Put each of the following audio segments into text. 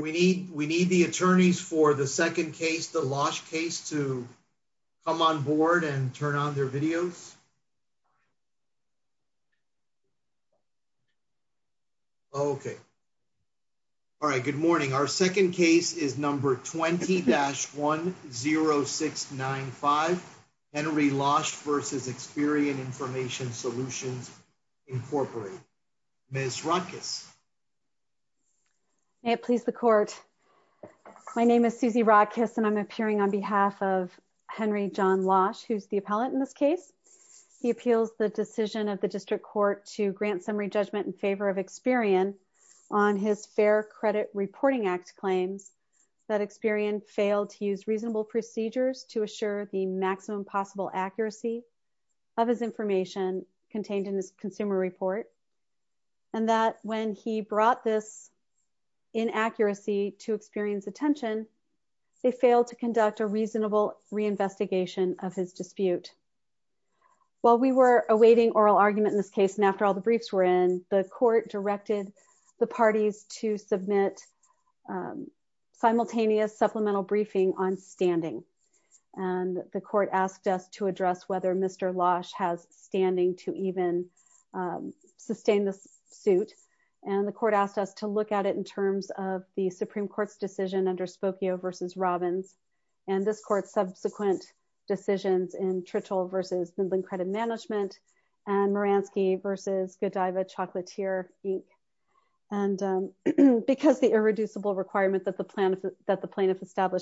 We need the attorneys for the second case, the Losch case, to come on board and turn on their videos. Okay. All right, good morning. Our second case is number 20-10695, Henry Losch v. Experian Information Solutions, Incorporated. Ms. Rodkiss. May it please the court. My name is Susie Rodkiss, and I'm appearing on behalf of Henry John Losch, who's the appellate in this case. He appeals the decision of the district court to grant summary judgment in favor of Experian on his Fair Credit Reporting Act claims that Experian failed to use reasonable procedures to assure the maximum possible accuracy of his information contained in his consumer report. And that when he brought this inaccuracy to Experian's attention, they failed to conduct a reasonable reinvestigation of his dispute. While we were awaiting oral argument in this case, and after all the briefs were in, the court directed the parties to submit simultaneous supplemental briefing on standing. And the court asked us to address whether Mr. Losch has standing to even sustain this suit. And the court asked us to look at it in terms of the Supreme Court's decision under Spokio v. Robbins, and this court's subsequent decisions in Trittle v.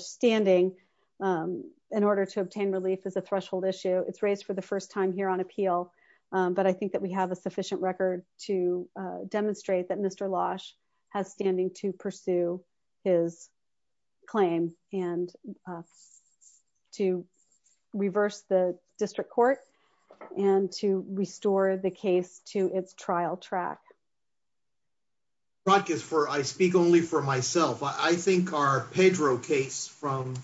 standing in order to obtain relief is a threshold issue. It's raised for the first time here on appeal, but I think that we have a sufficient record to demonstrate that Mr. Losch has standing to pursue his claim and to reverse the district court and to restore the case to its trial track. I speak only for myself. I think our Pedro case from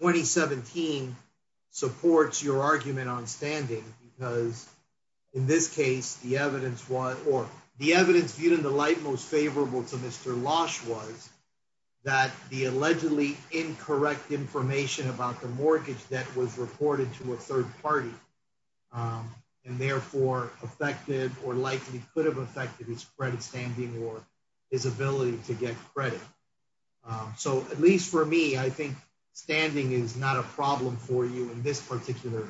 2017 supports your argument on standing because, in this case, the evidence viewed in the light most favorable to Mr. Losch was that the allegedly incorrect information about the mortgage debt was reported to a third party and therefore affected or likely could have affected his credit standing or his ability to get credit. So at least for me, I think standing is not a problem for you in this particular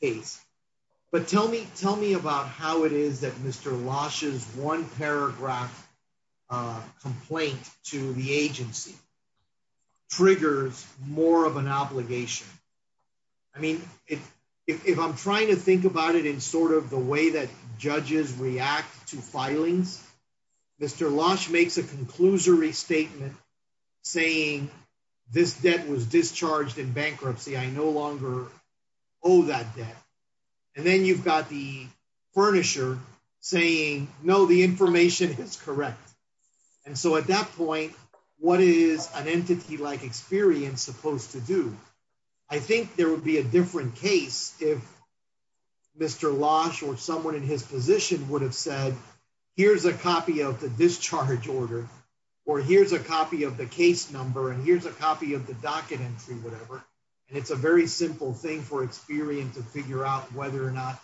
case. But tell me about how it is that Mr. Losch's one paragraph complaint to the agency triggers more of an obligation. I mean, if I'm trying to think about it in sort of the way that judges react to filings, Mr. Losch makes a conclusory statement saying, this debt was discharged in bankruptcy. I no longer owe that debt. And then you've got the furnisher saying, no, the information is correct. And so at that point, what is an entity like experience supposed to do? I think there would be a different case if Mr. Losch or someone in his position would have said, here's a copy of the discharge order, or here's a copy of the case number, and here's a copy of the docket entry, whatever. And it's a very simple thing for experience to figure out whether or not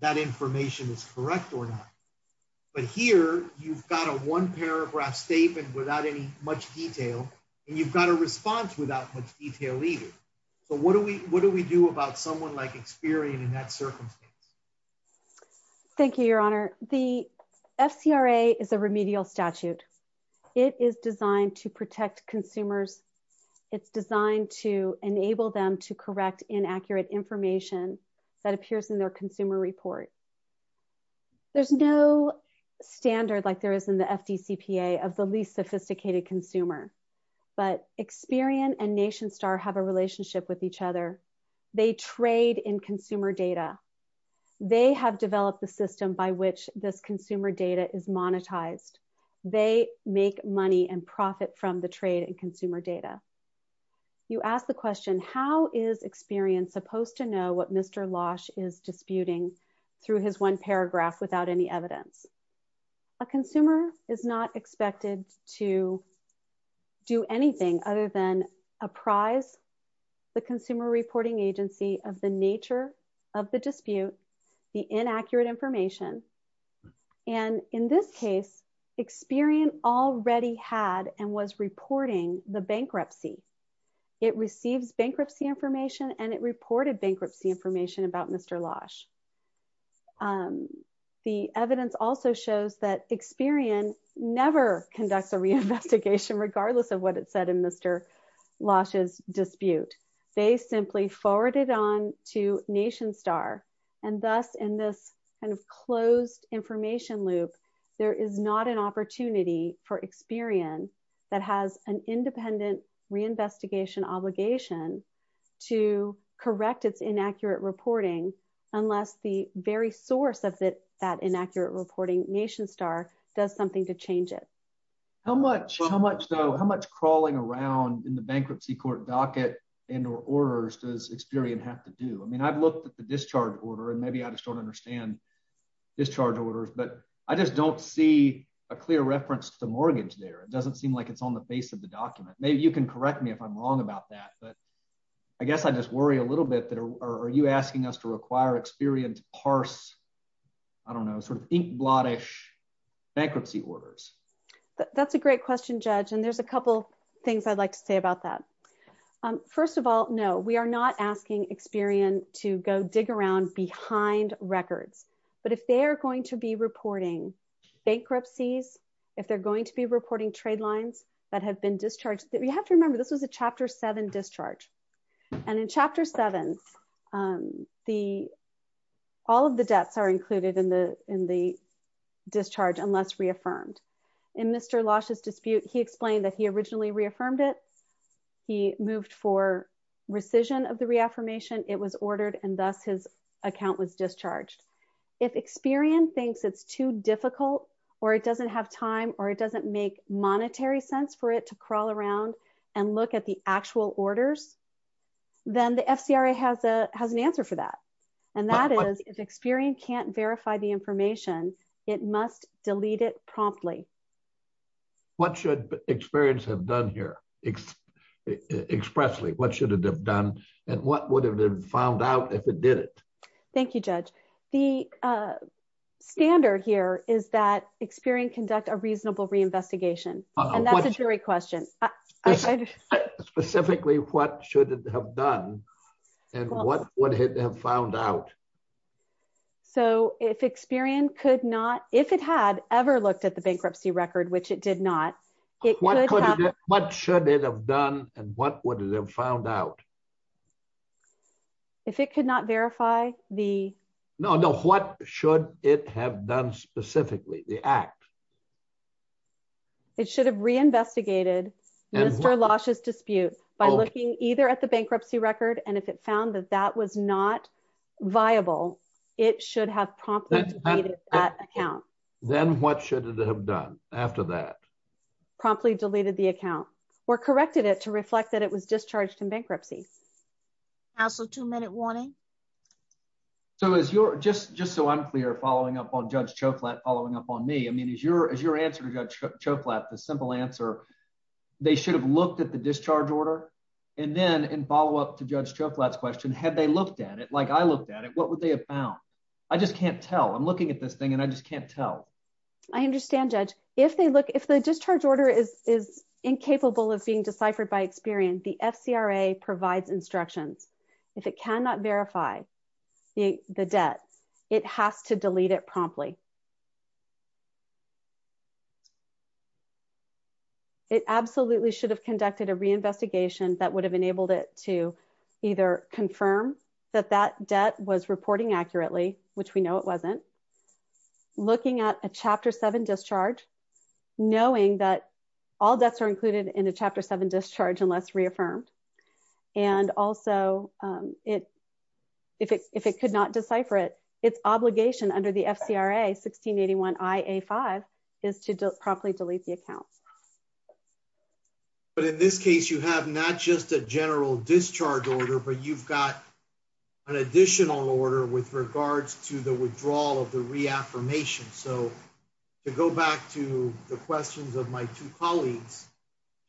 that information is correct or not. But here, you've got a one paragraph statement without any much detail, and you've got a response without much detail either. So what do we do about someone like experience in that circumstance? Thank you, Your Honor. The FCRA is a remedial statute. It is designed to protect consumers. It's designed to enable them to correct inaccurate information that appears in their consumer report. There's no standard like there is in the FDCPA of the least sophisticated consumer. But Experian and NationStar have a relationship with each other. They trade in consumer data. They have developed the system by which this consumer data is monetized. They make money and profit from the trade and consumer data. You asked the question, how is Experian supposed to know what Mr. Losch is disputing through his one paragraph without any evidence? A consumer is not expected to do anything other than apprise the consumer reporting agency of the nature of the dispute, the inaccurate information. And in this case, Experian already had and was reporting the bankruptcy. It receives bankruptcy information and it reported bankruptcy information about Mr. Losch. The evidence also shows that Experian never conducts a reinvestigation, regardless of what it said in Mr. Losch's dispute. They simply forwarded on to NationStar. And thus, in this kind of closed information loop, there is not an opportunity for Experian that has an independent reinvestigation obligation to correct its inaccurate reporting, unless the very source of that inaccurate reporting, NationStar, does something to change it. How much crawling around in the bankruptcy court docket and or orders does Experian have to do? I mean, I've looked at the discharge order and maybe I just don't understand discharge orders, but I just don't see a clear reference to mortgage there. It doesn't seem like it's on the face of the document. Maybe you can correct me if I'm wrong about that, but I guess I just worry a little bit that are you asking us to require Experian to parse, I don't know, sort of inkblot-ish bankruptcy orders? That's a great question, Judge, and there's a couple things I'd like to say about that. First of all, no, we are not asking Experian to go dig around behind records, but if they are going to be reporting bankruptcies, if they're going to be reporting trade lines that have been discharged, you have to remember this was a Chapter 7 discharge. And in Chapter 7, all of the debts are included in the discharge unless reaffirmed. In Mr. Losch's dispute, he explained that he originally reaffirmed it, he moved for rescission of the reaffirmation, it was ordered, and thus his account was discharged. If Experian thinks it's too difficult, or it doesn't have time, or it doesn't make monetary sense for it to crawl around and look at the actual orders, then the FCRA has an answer for that. And that is, if Experian can't verify the information, it must delete it promptly. What should Experian have done here? Expressly, what should it have done, and what would it have found out if it did it? Thank you, Judge. The standard here is that Experian conduct a reasonable reinvestigation, and that's a jury question. Specifically, what should it have done, and what would it have found out? So, if Experian could not, if it had ever looked at the bankruptcy record, which it did not, it could have... What should it have done, and what would it have found out? If it could not verify the... No, no, what should it have done specifically, the act? It should have reinvestigated Mr. Losch's dispute by looking either at the bankruptcy record, and if it found that that was not viable, it should have promptly deleted that account. Then what should it have done after that? Promptly deleted the account, or corrected it to reflect that it was discharged in bankruptcy. Counsel, two-minute warning. So, just so I'm clear, following up on Judge Choklat, following up on me, I mean, is your answer to Judge Choklat, the simple answer, they should have looked at the discharge order? And then, in follow-up to Judge Choklat's question, had they looked at it like I looked at it, what would they have found? I just can't tell. I'm looking at this thing, and I just can't tell. I understand, Judge. If they look, if the discharge order is incapable of being deciphered by experience, the FCRA provides instructions. If it cannot verify the debt, it has to delete it promptly. It absolutely should have conducted a reinvestigation that would have enabled it to either confirm that that debt was reporting accurately, which we know it wasn't, looking at a Chapter 7 discharge, knowing that all debts are included in a Chapter 7 discharge unless reaffirmed, and also, if it could not decipher it, its obligation under the FCRA 1681 IA-5 is to promptly delete the account. But in this case, you have not just a general discharge order, but you've got an additional order with regards to the withdrawal of the reaffirmation. So, to go back to the questions of my two colleagues,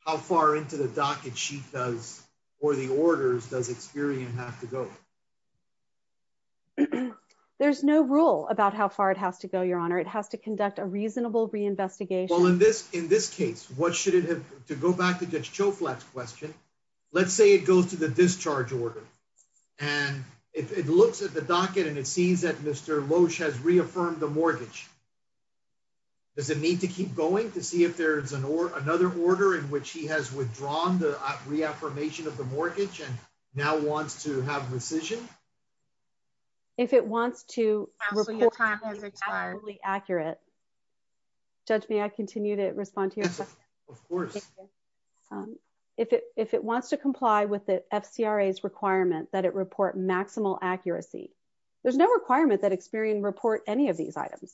how far into the docket she does, or the orders, does Experian have to go? There's no rule about how far it has to go, Your Honor. It has to conduct a reasonable reinvestigation. Well, in this case, what should it have, to go back to Judge Choflat's question, let's say it goes to the discharge order, and it looks at the docket and it sees that Mr. Loesch has reaffirmed the mortgage. Does it need to keep going to see if there's another order in which he has withdrawn the reaffirmation of the mortgage and now wants to have rescission? If it wants to report it as absolutely accurate, Judge, may I continue to respond to your question? Of course. If it wants to comply with the FCRA's requirement that it report maximal accuracy, there's no requirement that Experian report any of these items.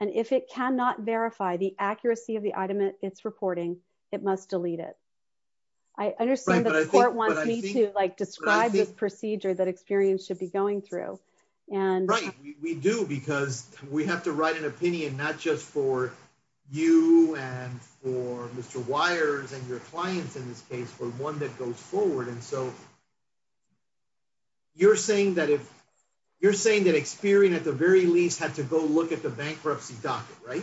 And if it cannot verify the accuracy of the item it's reporting, it must delete it. I understand that the court wants me to describe the procedure that Experian should be going through. Right, we do, because we have to write an opinion, not just for you and for Mr. Wires and your clients in this case, but one that goes forward. And so, you're saying that Experian at the very least had to go look at the bankruptcy docket, right?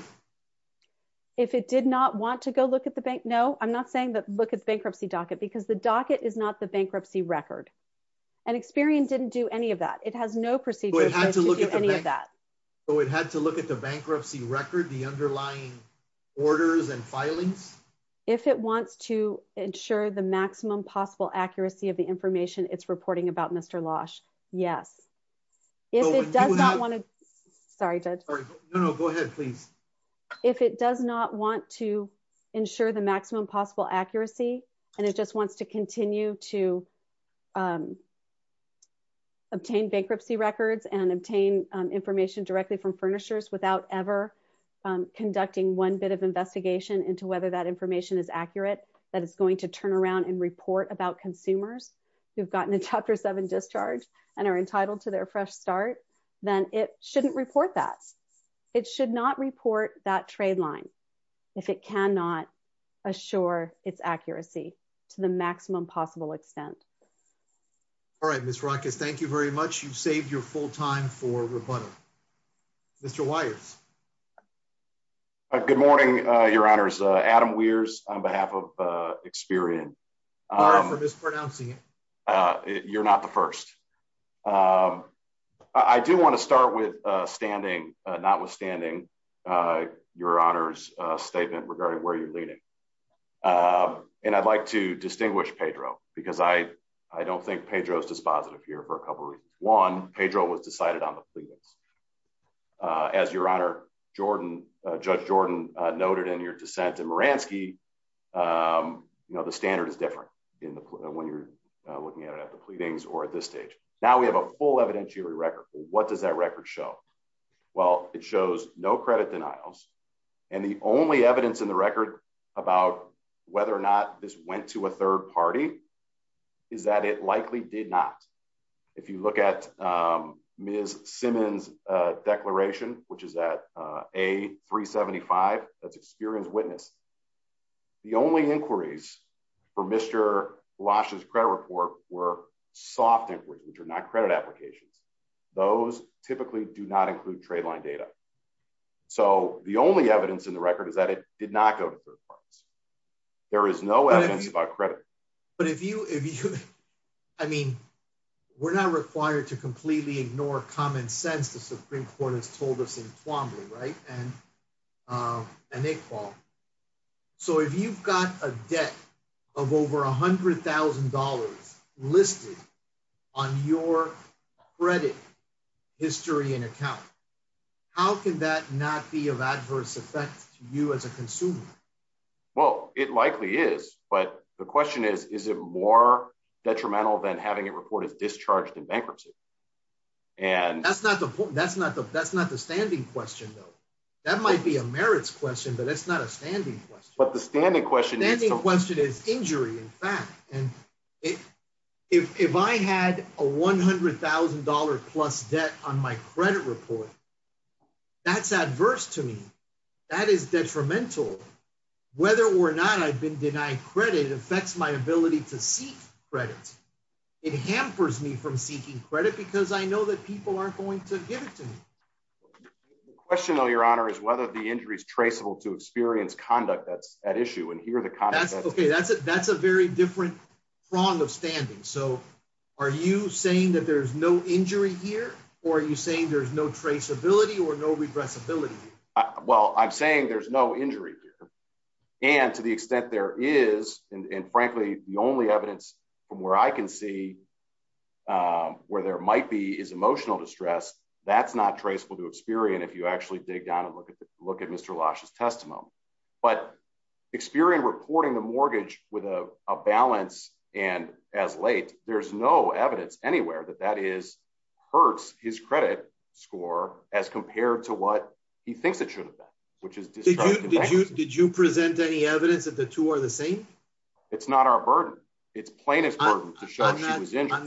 If it did not want to go look at the bank, no, I'm not saying that look at the bankruptcy docket, because the docket is not the bankruptcy record. And Experian didn't do any of that. It has no procedure to do any of that. So it had to look at the bankruptcy record, the underlying orders and filings? If it wants to ensure the maximum possible accuracy of the information it's reporting about Mr. Loesch, yes. If it does not want to, sorry, Judge. No, no, go ahead, please. If it does not want to ensure the maximum possible accuracy, and it just wants to continue to obtain bankruptcy records and obtain information directly from furnishers without ever conducting one bit of investigation into whether that information is accurate, that it's going to turn around and report about consumers who've gotten a chapter seven discharge and are entitled to their fresh start, then it shouldn't report that. It should not report that trade line. If it cannot assure its accuracy to the maximum possible extent. All right, Miss Roccas, thank you very much. You've saved your full time for rebuttal. Mr. Wires. Good morning, Your Honor's Adam Weers on behalf of Experian. Sorry for mispronouncing it. You're not the first. I do want to start with standing, notwithstanding Your Honor's statement regarding where you're leaning. And I'd like to distinguish Pedro, because I, I don't think Pedro's dispositive here for a couple reasons. One, Pedro was decided on the pleadings. As Your Honor, Jordan, Judge Jordan noted in your dissent in Moransky, you know the standard is different in the when you're looking at it at the pleadings or at this stage. Now we have a full evidentiary record. What does that record show? Well, it shows no credit denials. And the only evidence in the record about whether or not this went to a third party is that it likely did not. If you look at Ms. Simmons declaration, which is at A375, that's Experian's witness. The only inquiries for Mr. Lash's credit report were soft inquiries, which are not credit applications. Those typically do not include trade line data. So the only evidence in the record is that it did not go to third parties. There is no evidence about credit. But if you, if you, I mean, we're not required to completely ignore common sense, the Supreme Court has told us in Twombly, right? So if you've got a debt of over $100,000 listed on your credit history and account, how can that not be of adverse effect to you as a consumer? Well, it likely is. But the question is, is it more detrimental than having a report is discharged in bankruptcy? And that's not the point. That's not the that's not the standing question, though. That might be a merits question, but it's not a standing question. But the standing question is the question is injury. In fact, if I had a $100,000 plus debt on my credit report, that's adverse to me. That is detrimental. Whether or not I've been denied credit affects my ability to seek credit. It hampers me from seeking credit because I know that people aren't going to give it to me. The question, though, Your Honor, is whether the injury is traceable to Experian's conduct. That's OK. That's a that's a very different prong of standing. So are you saying that there's no injury here or are you saying there's no traceability or no regressibility? Well, I'm saying there's no injury here. And to the extent there is. And frankly, the only evidence from where I can see where there might be is emotional distress. That's not traceable to Experian if you actually dig down and look at the look at Mr. But Experian reporting the mortgage with a balance and as late. There's no evidence anywhere that that is hurts his credit score as compared to what he thinks it should have been, which is. Did you present any evidence that the two are the same? It's not our burden. It's plaintiff. I'm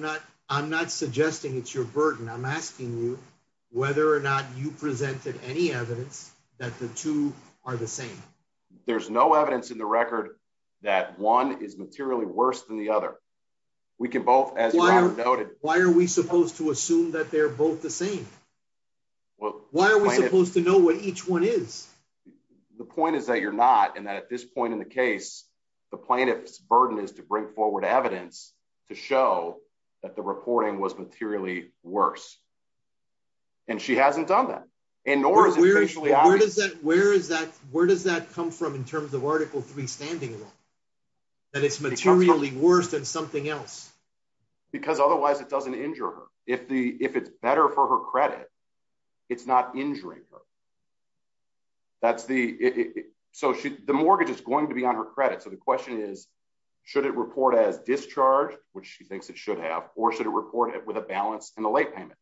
not I'm not suggesting it's your burden. I'm asking you whether or not you presented any evidence that the two are the same. There's no evidence in the record that one is materially worse than the other. We can both as noted. Why are we supposed to assume that they're both the same? Well, why are we supposed to know what each one is? The point is that you're not and that at this point in the case, the plaintiff's burden is to bring forward evidence to show that the reporting was materially worse. And she hasn't done that. And nor is it. Where is that? Where is that? Where does that come from in terms of Article three standing? And it's materially worse than something else. Because otherwise it doesn't injure her. If the if it's better for her credit, it's not injuring her. That's the so the mortgage is going to be on her credit. So the question is, should it report as discharged, which she thinks it should have, or should it report it with a balance in the late payment?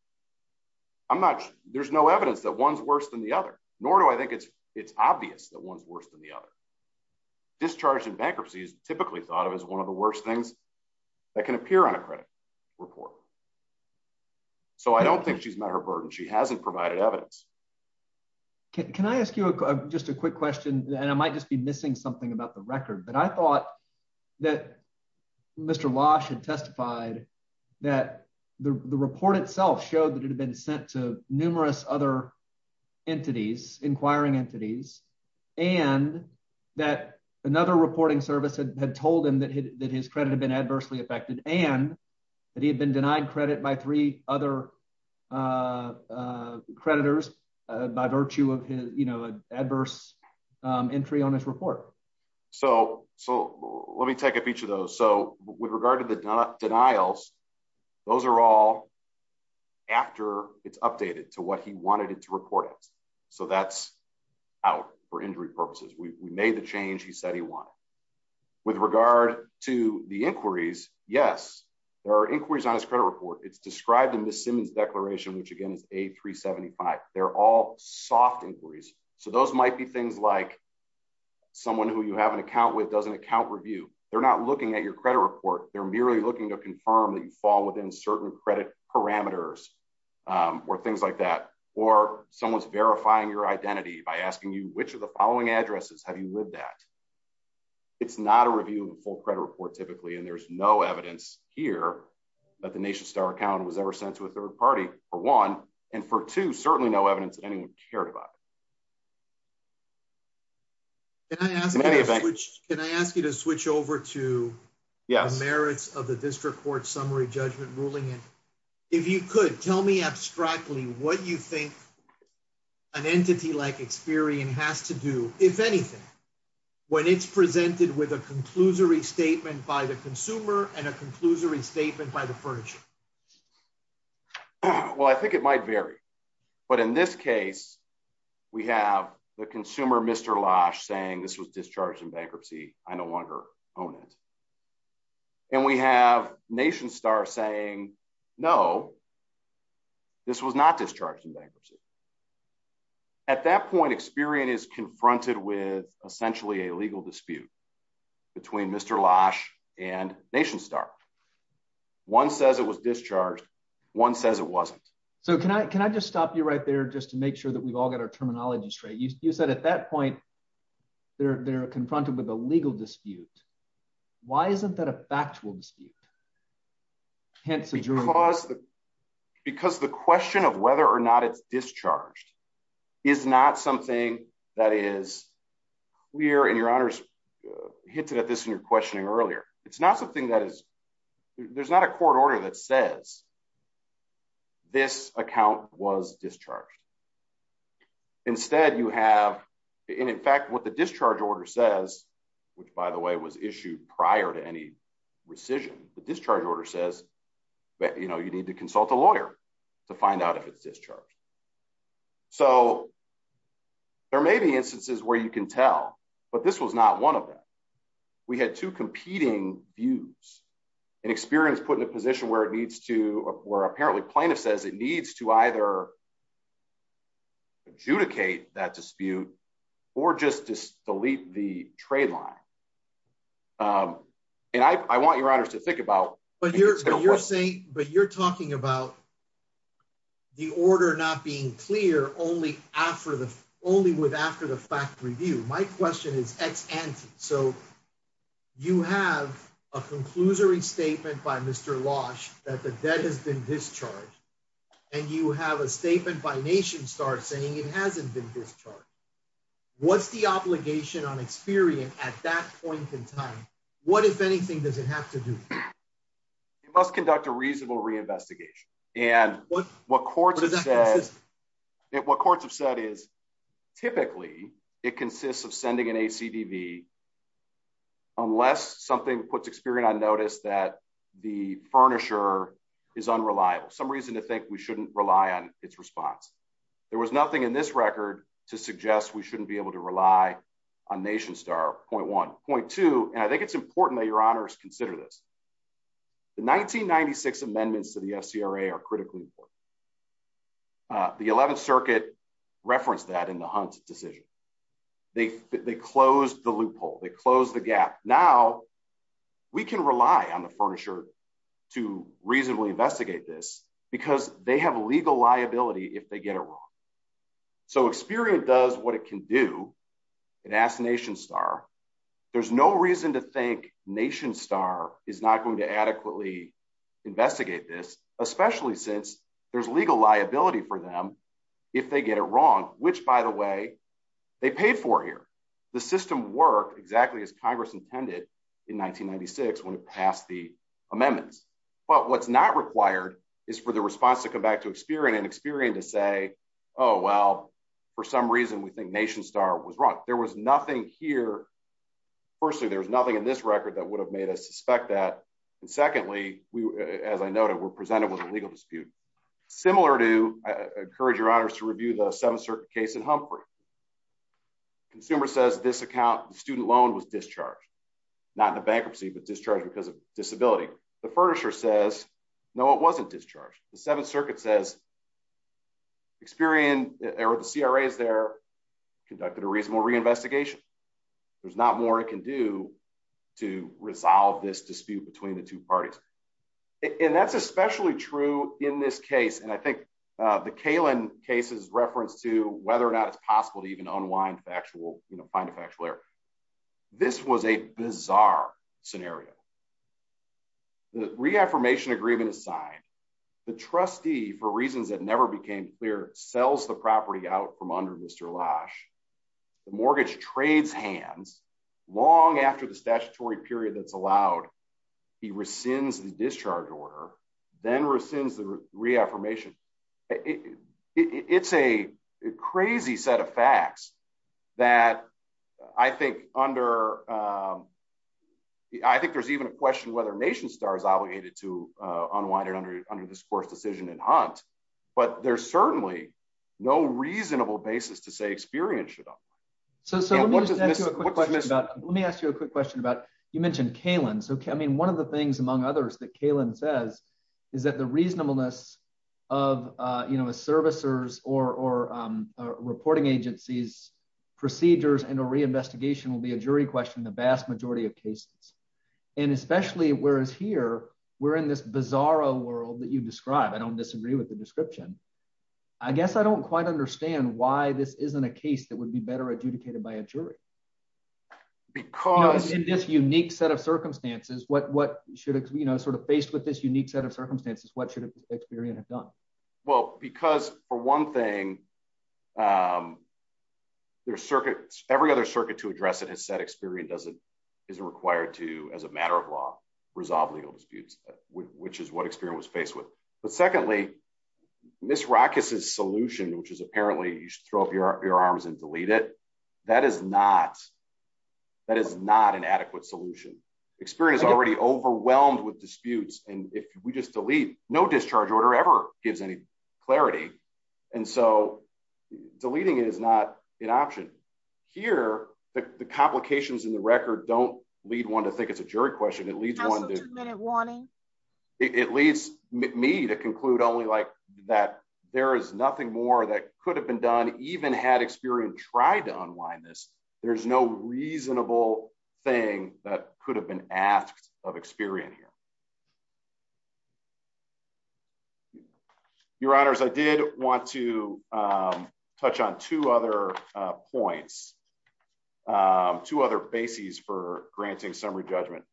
I'm not there's no evidence that one's worse than the other, nor do I think it's it's obvious that one's worse than the other. Discharge and bankruptcy is typically thought of as one of the worst things that can appear on a credit report. So I don't think she's met her burden. She hasn't provided evidence. Can I ask you just a quick question, and I might just be missing something about the record, but I thought that Mr. had testified that the report itself showed that it had been sent to numerous other entities inquiring entities, and that another reporting service had told him that his credit had been adversely affected and that he had been denied credit by three other creditors, by virtue of his, you know, adverse entry on this report. So, so let me take up each of those. So, with regard to the denials. Those are all after it's updated to what he wanted it to report it. So that's out for injury purposes we made the change he said he wanted. With regard to the inquiries. Yes, there are inquiries on his credit report it's described in the Simmons declaration which again is a 375, they're all soft inquiries. So those might be things like someone who you have an account with doesn't account review, they're not looking at your credit report, they're merely looking to confirm that you fall within certain credit parameters, or things like that, or someone's verifying your identity by asking you which of the following addresses have you lived at. It's not a review full credit report typically and there's no evidence here that the nation star account was ever sent to a third party for one, and for to certainly no evidence that anyone cared about. Can I ask you to switch over to. Yes, merits of the district court summary judgment ruling. If you could tell me abstractly what you think an entity like experience has to do, if anything, when it's presented with a conclusory statement by the consumer and a conclusory statement by the version. Well, I think it might vary. But in this case, we have the consumer Mr Lodge saying this was discharged in bankruptcy, I no longer own it. And we have nation star saying, No, this was not discharged in bankruptcy. At that point experience confronted with essentially a legal dispute between Mr Lodge and nation star. One says it was discharged. One says it wasn't. So can I can I just stop you right there just to make sure that we've all got our terminology straight you said at that point, they're confronted with a legal dispute. Why isn't that a factual dispute. Hence, because the, because the question of whether or not it's discharged is not something that is we're in your honors hinted at this in your questioning earlier, it's not something that is, there's not a court order that says this account was discharged. Instead, you have in fact what the discharge order says, which by the way was issued prior to any rescission, the discharge order says that you know you need to consult a lawyer to find out if it's discharged. So, there may be instances where you can tell, but this was not one of them. We had two competing views and experience put in a position where it needs to where apparently plaintiff says it needs to either adjudicate that dispute, or just just delete the trade line. And I want your honors to think about, but you're saying, but you're talking about the order not being clear only after the only with after the fact review, my question is, so you have a conclusory statement by Mr. What if anything, does it have to do. It must conduct a reasonable reinvestigation. And what, what courts have said is typically, it consists of sending an AC TV. Unless something puts experience I noticed that the furniture is unreliable some reason to think we shouldn't rely on its response. There was nothing in this record to suggest we shouldn't be able to rely on nation star point 1.2, and I think it's important that your honors consider this. The 1996 amendments to the SCRA are critically important. The 11th Circuit reference that in the hunt decision. They, they close the loophole they close the gap. Now, we can rely on the furniture to reasonably investigate this because they have legal liability if they get it wrong. So experience does what it can do. And as nation star. There's no reason to think nation star is not going to adequately investigate this, especially since there's legal liability for them. If they get it wrong, which by the way, they pay for here. The system work exactly as Congress intended in 1996 when it passed the amendments, but what's not required is for the response to come back to experience and experience to say, Oh, well, for some reason we think nation star was wrong. There was nothing here. Firstly, there's nothing in this record that would have made us suspect that. And secondly, we, as I noted were presented with a legal dispute, similar to encourage your honors to review the seven certain case in Humphrey consumer says this account student loan was discharged. Not the bankruptcy but discharged because of disability, the furniture says, No, it wasn't discharged, the Seventh Circuit says experience, or the CRA is there, conducted a reasonable reinvestigation. There's not more it can do to resolve this dispute between the two parties. And that's especially true in this case and I think the Kalen cases reference to whether or not it's possible to even unwind factual, you know, find a factual error. This was a bizarre scenario. The reaffirmation agreement is signed. The trustee for reasons that never became clear sells the property out from under Mr lash mortgage trades hands, long after the statutory period that's allowed. He rescinds the discharge order, then rescinds the reaffirmation. It's a crazy set of facts that I think under. I think there's even a question whether nation stars obligated to unwind and under under this course decision and hunt, but there's certainly no reasonable basis to say experience. So let me ask you a quick question about you mentioned Kalen so I mean one of the things among others that Kalen says is that the reasonableness of, you know, a servicers or reporting agencies procedures and a reinvestigation will be a jury question the vast majority of cases, and especially whereas here, we're in this bizarro world that you described I don't disagree with the description. I guess I don't quite understand why this isn't a case that would be better adjudicated by a jury. Because this unique set of circumstances what what should we know sort of faced with this unique set of circumstances, what should experience have done well because, for one thing, their circuits, every other circuit to address it has said experience doesn't isn't required to as a matter of law, resolve legal disputes, which is what experience was faced with. But secondly, Miss rockets is solution which is apparently you should throw up your, your arms and delete it. That is not. That is not an adequate solution experience already overwhelmed with disputes, and if we just delete no discharge order ever gives any clarity. And so, deleting it is not an option here, the complications in the record don't lead one to think it's a jury question at least one minute warning. It leads me to conclude only like that, there is nothing more that could have been done, even had experienced tried to unwind this, there's no reasonable thing that could have been asked of experience here. Your Honors I did want to touch on two other points. Two other bases for granting summary judgment.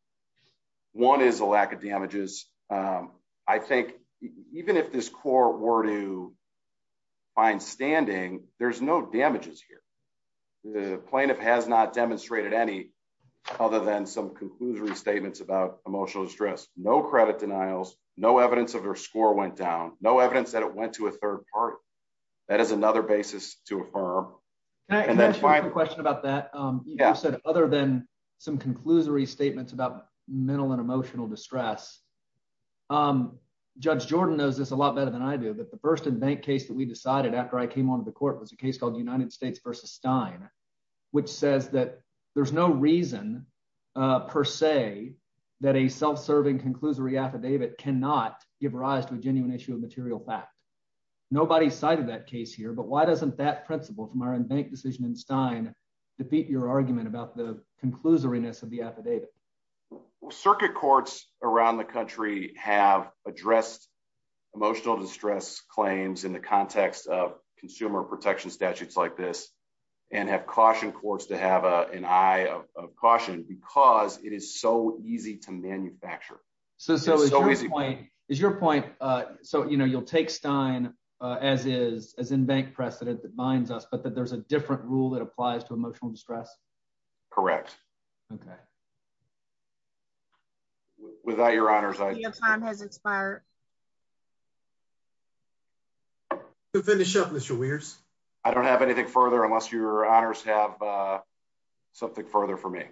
One is a lack of damages. I think, even if this core were to find standing, there's no damages here. The plaintiff has not demonstrated any other than some conclusory statements about emotional distress, no credit denials, no evidence of their score went down, no evidence that it went to a third party. That is another basis to affirm. And that's why I have a question about that. Yeah, I said, other than some conclusory statements about mental and emotional distress. I'm Judge Jordan knows this a lot better than I do that the first in bank case that we decided after I came on the court was a case called United States versus Stein, which says that there's no reason, per se, that a self serving conclusory affidavit cannot give rise to a genuine issue of material fact. Nobody cited that case here but why doesn't that principle from our own bank decision and Stein defeat your argument about the conclusiveness of the affidavit circuit courts around the country have addressed emotional distress claims in the context of consumer is your point. So you know you'll take Stein, as is, as in bank precedent that binds us but that there's a different rule that applies to emotional distress. Correct. Okay. Without your honors I has expired. To finish up this years. I don't have anything further unless your honors have something further for me.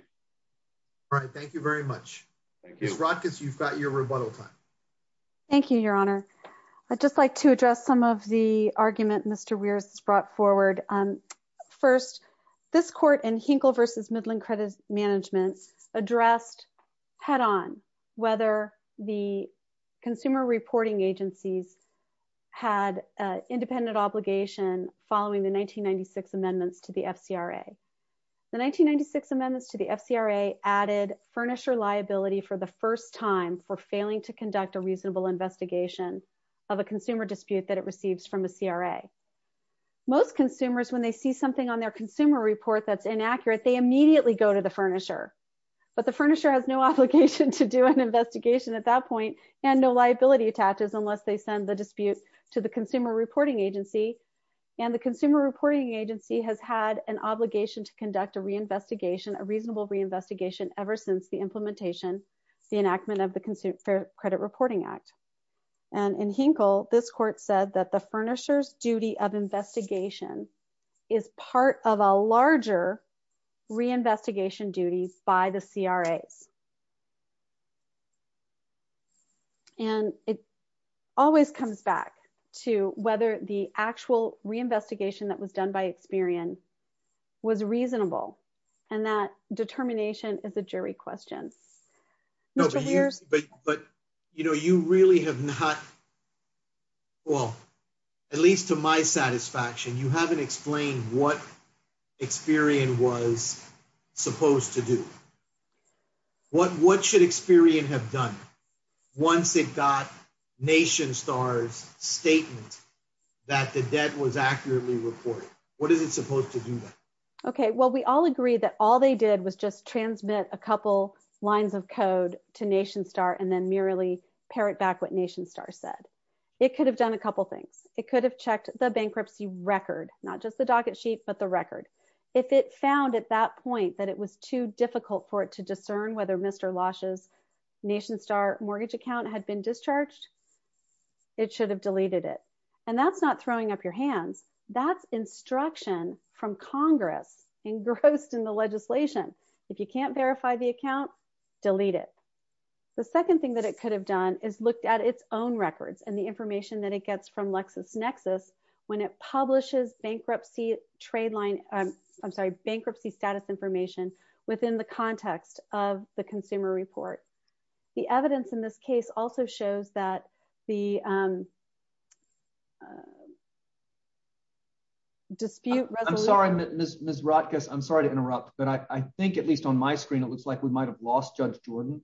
All right, thank you very much. Thank you rockets you've got your rebuttal time. Thank you, Your Honor. I just like to address some of the argument Mr rears is brought forward. First, this court and Hinkle versus Midland credits management's addressed head on, whether the consumer reporting agencies had independent obligation, following the 1996 amendments to the FCR a 1996 amendments to the FCR a added furniture liability for the consumers when they see something on their consumer report that's inaccurate they immediately go to the furniture, but the furniture has no obligation to do an investigation at that point, and no liability attaches unless they send the dispute to the consumer reporting agency, and the consumer reporting agency has had an obligation to conduct a reinvestigation a reasonable reinvestigation, ever since the implementation, the enactment of the consumer credit reporting act. And in Hinkle this court said that the furnishers duty of investigation is part of a larger reinvestigation duties by the CRS. And it always comes back to whether the actual reinvestigation that was done by experience was reasonable, and that determination is a jury question. But, but, you know, you really have not. Well, at least to my satisfaction you haven't explained what experience was supposed to do what what should experience have done. Once it got nation stars statement that the debt was accurately reported, what is it supposed to do that. Okay, well we all agree that all they did was just transmit a couple lines of code to nation star and then merely parrot back what nation star said it should have deleted it. And that's not throwing up your hands. That's instruction from Congress engrossed in the legislation. If you can't verify the account, delete it. The second thing that it could have done is looked at its own records and the information that it gets from LexisNexis when it publishes bankruptcy trade line. I'm sorry bankruptcy status information within the context of the consumer report. The evidence in this case also shows that the dispute. I'm sorry, Miss Miss Rutgers I'm sorry to interrupt, but I think at least on my screen it looks like we might have lost judge Jordan.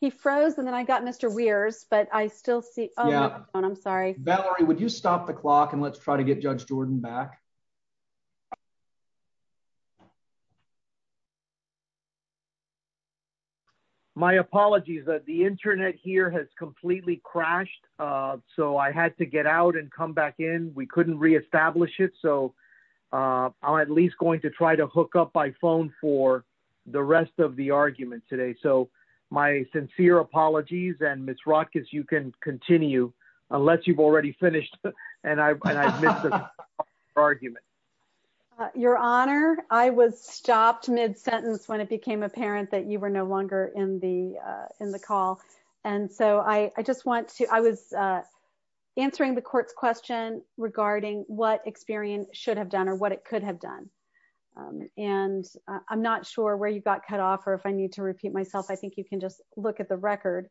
He froze and then I got Mr weirs but I still see. Yeah, I'm sorry, Valerie, would you stop the clock and let's try to get judge Jordan back. My apologies that the internet here has completely crashed. So I had to get out and come back in, we couldn't reestablish it so I'm at least going to try to hook up by phone for the rest of the argument today so my sincere apologies and Miss rockets you can continue, unless you've already finished, and I missed the argument. Your Honor, I was stopped mid sentence when it became apparent that you were no longer in the, in the call. And so I just want to I was answering the court's question regarding what experience should have done or what it could have done. And I'm not sure where you got cut off or if I need to repeat myself I think you can just look at the record.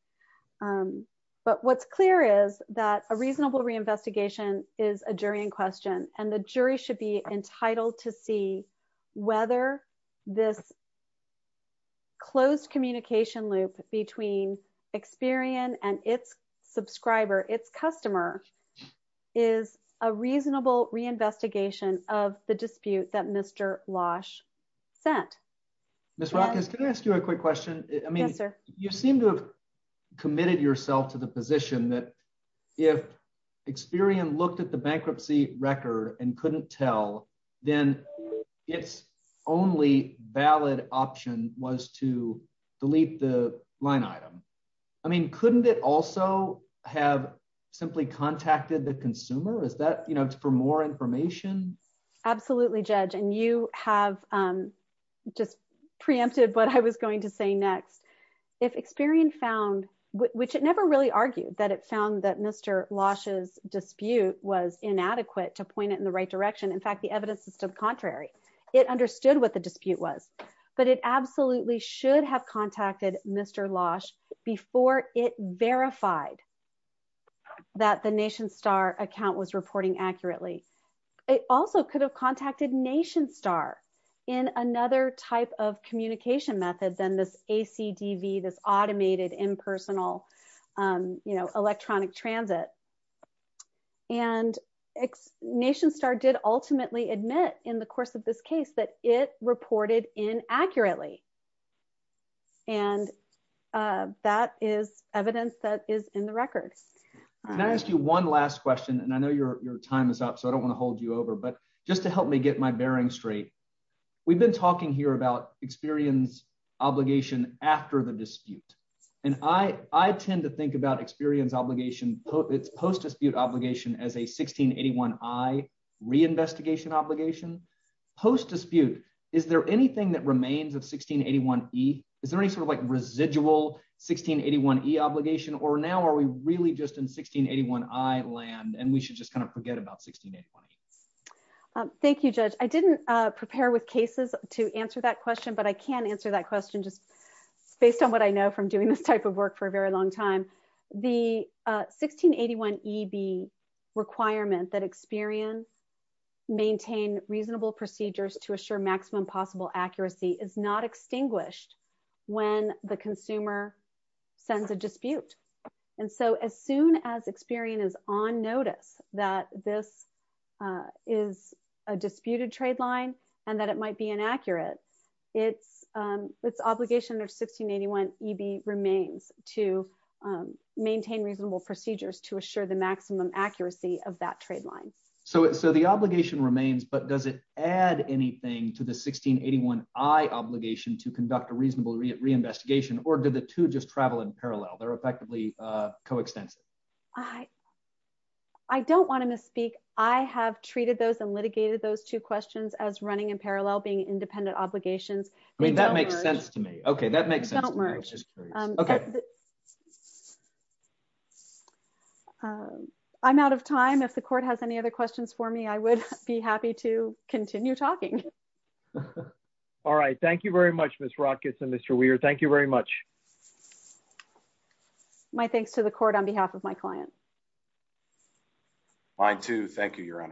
But what's clear is that a reasonable reinvestigation is a jury in question, and the jury should be entitled to see whether this closed communication loop between experience and its subscriber its customer is a reasonable reinvestigation of the dispute that Mr. sent. Miss rockets Can I ask you a quick question. I mean, sir, you seem to have committed yourself to the position that if experience looked at the bankruptcy record and couldn't tell, then it's only valid option was to delete the line item. I mean, couldn't it also have simply contacted the consumer is that you know it's for more information. Absolutely judge and you have just preempted but I was going to say next, if experience found, which it never really argued that it found that Mr. Lashes dispute was inadequate to point it in the right direction. In fact, the evidence is to the contrary, it understood what the dispute was, but it absolutely should have contacted Mr. Lash before it verified that the nation star account was reporting accurately. It also could have contacted nation star in another type of communication method than this AC TV this automated impersonal, you know, electronic transit and nation star did ultimately admit in the course of this case that it reported in accurately. And that is evidence that is in the record. Can I ask you one last question and I know your time is up so I don't want to hold you over but just to help me get my bearing straight. We've been talking here about experience obligation after the dispute. And I, I tend to think about experience obligation post dispute obligation as a 1681 I reinvestigation obligation post dispute. Is there anything that remains of 1681 he is there any sort of like residual 1681 he obligation or now are we really just in 1681 I land and we should just kind of forget about 16. Thank you, Judge, I didn't prepare with cases to answer that question but I can answer that question just based on what I know from doing this type of work for a very long time. The 1681 EB requirement that experience, maintain reasonable procedures to assure maximum possible accuracy is not extinguished. When the consumer sends a dispute. And so as soon as experience on notice that this is a disputed trade line, and that it might be inaccurate. It's, it's obligation or 1681 EB remains to maintain reasonable procedures to assure the maximum accuracy of that trade line. So, so the obligation remains but does it add anything to the 1681 I obligation to conduct a reasonable reinvestigation or did the two just travel in parallel they're effectively co extensive. I, I don't want to misspeak, I have treated those and litigated those two questions as running in parallel being independent obligations. I mean that makes sense to me. Okay, that makes sense. Okay. Okay. I'm out of time if the court has any other questions for me I would be happy to continue talking. All right, thank you very much, Miss rockets and Mr weird thank you very much. My thanks to the court on behalf of my client. Mine to thank you, your honors.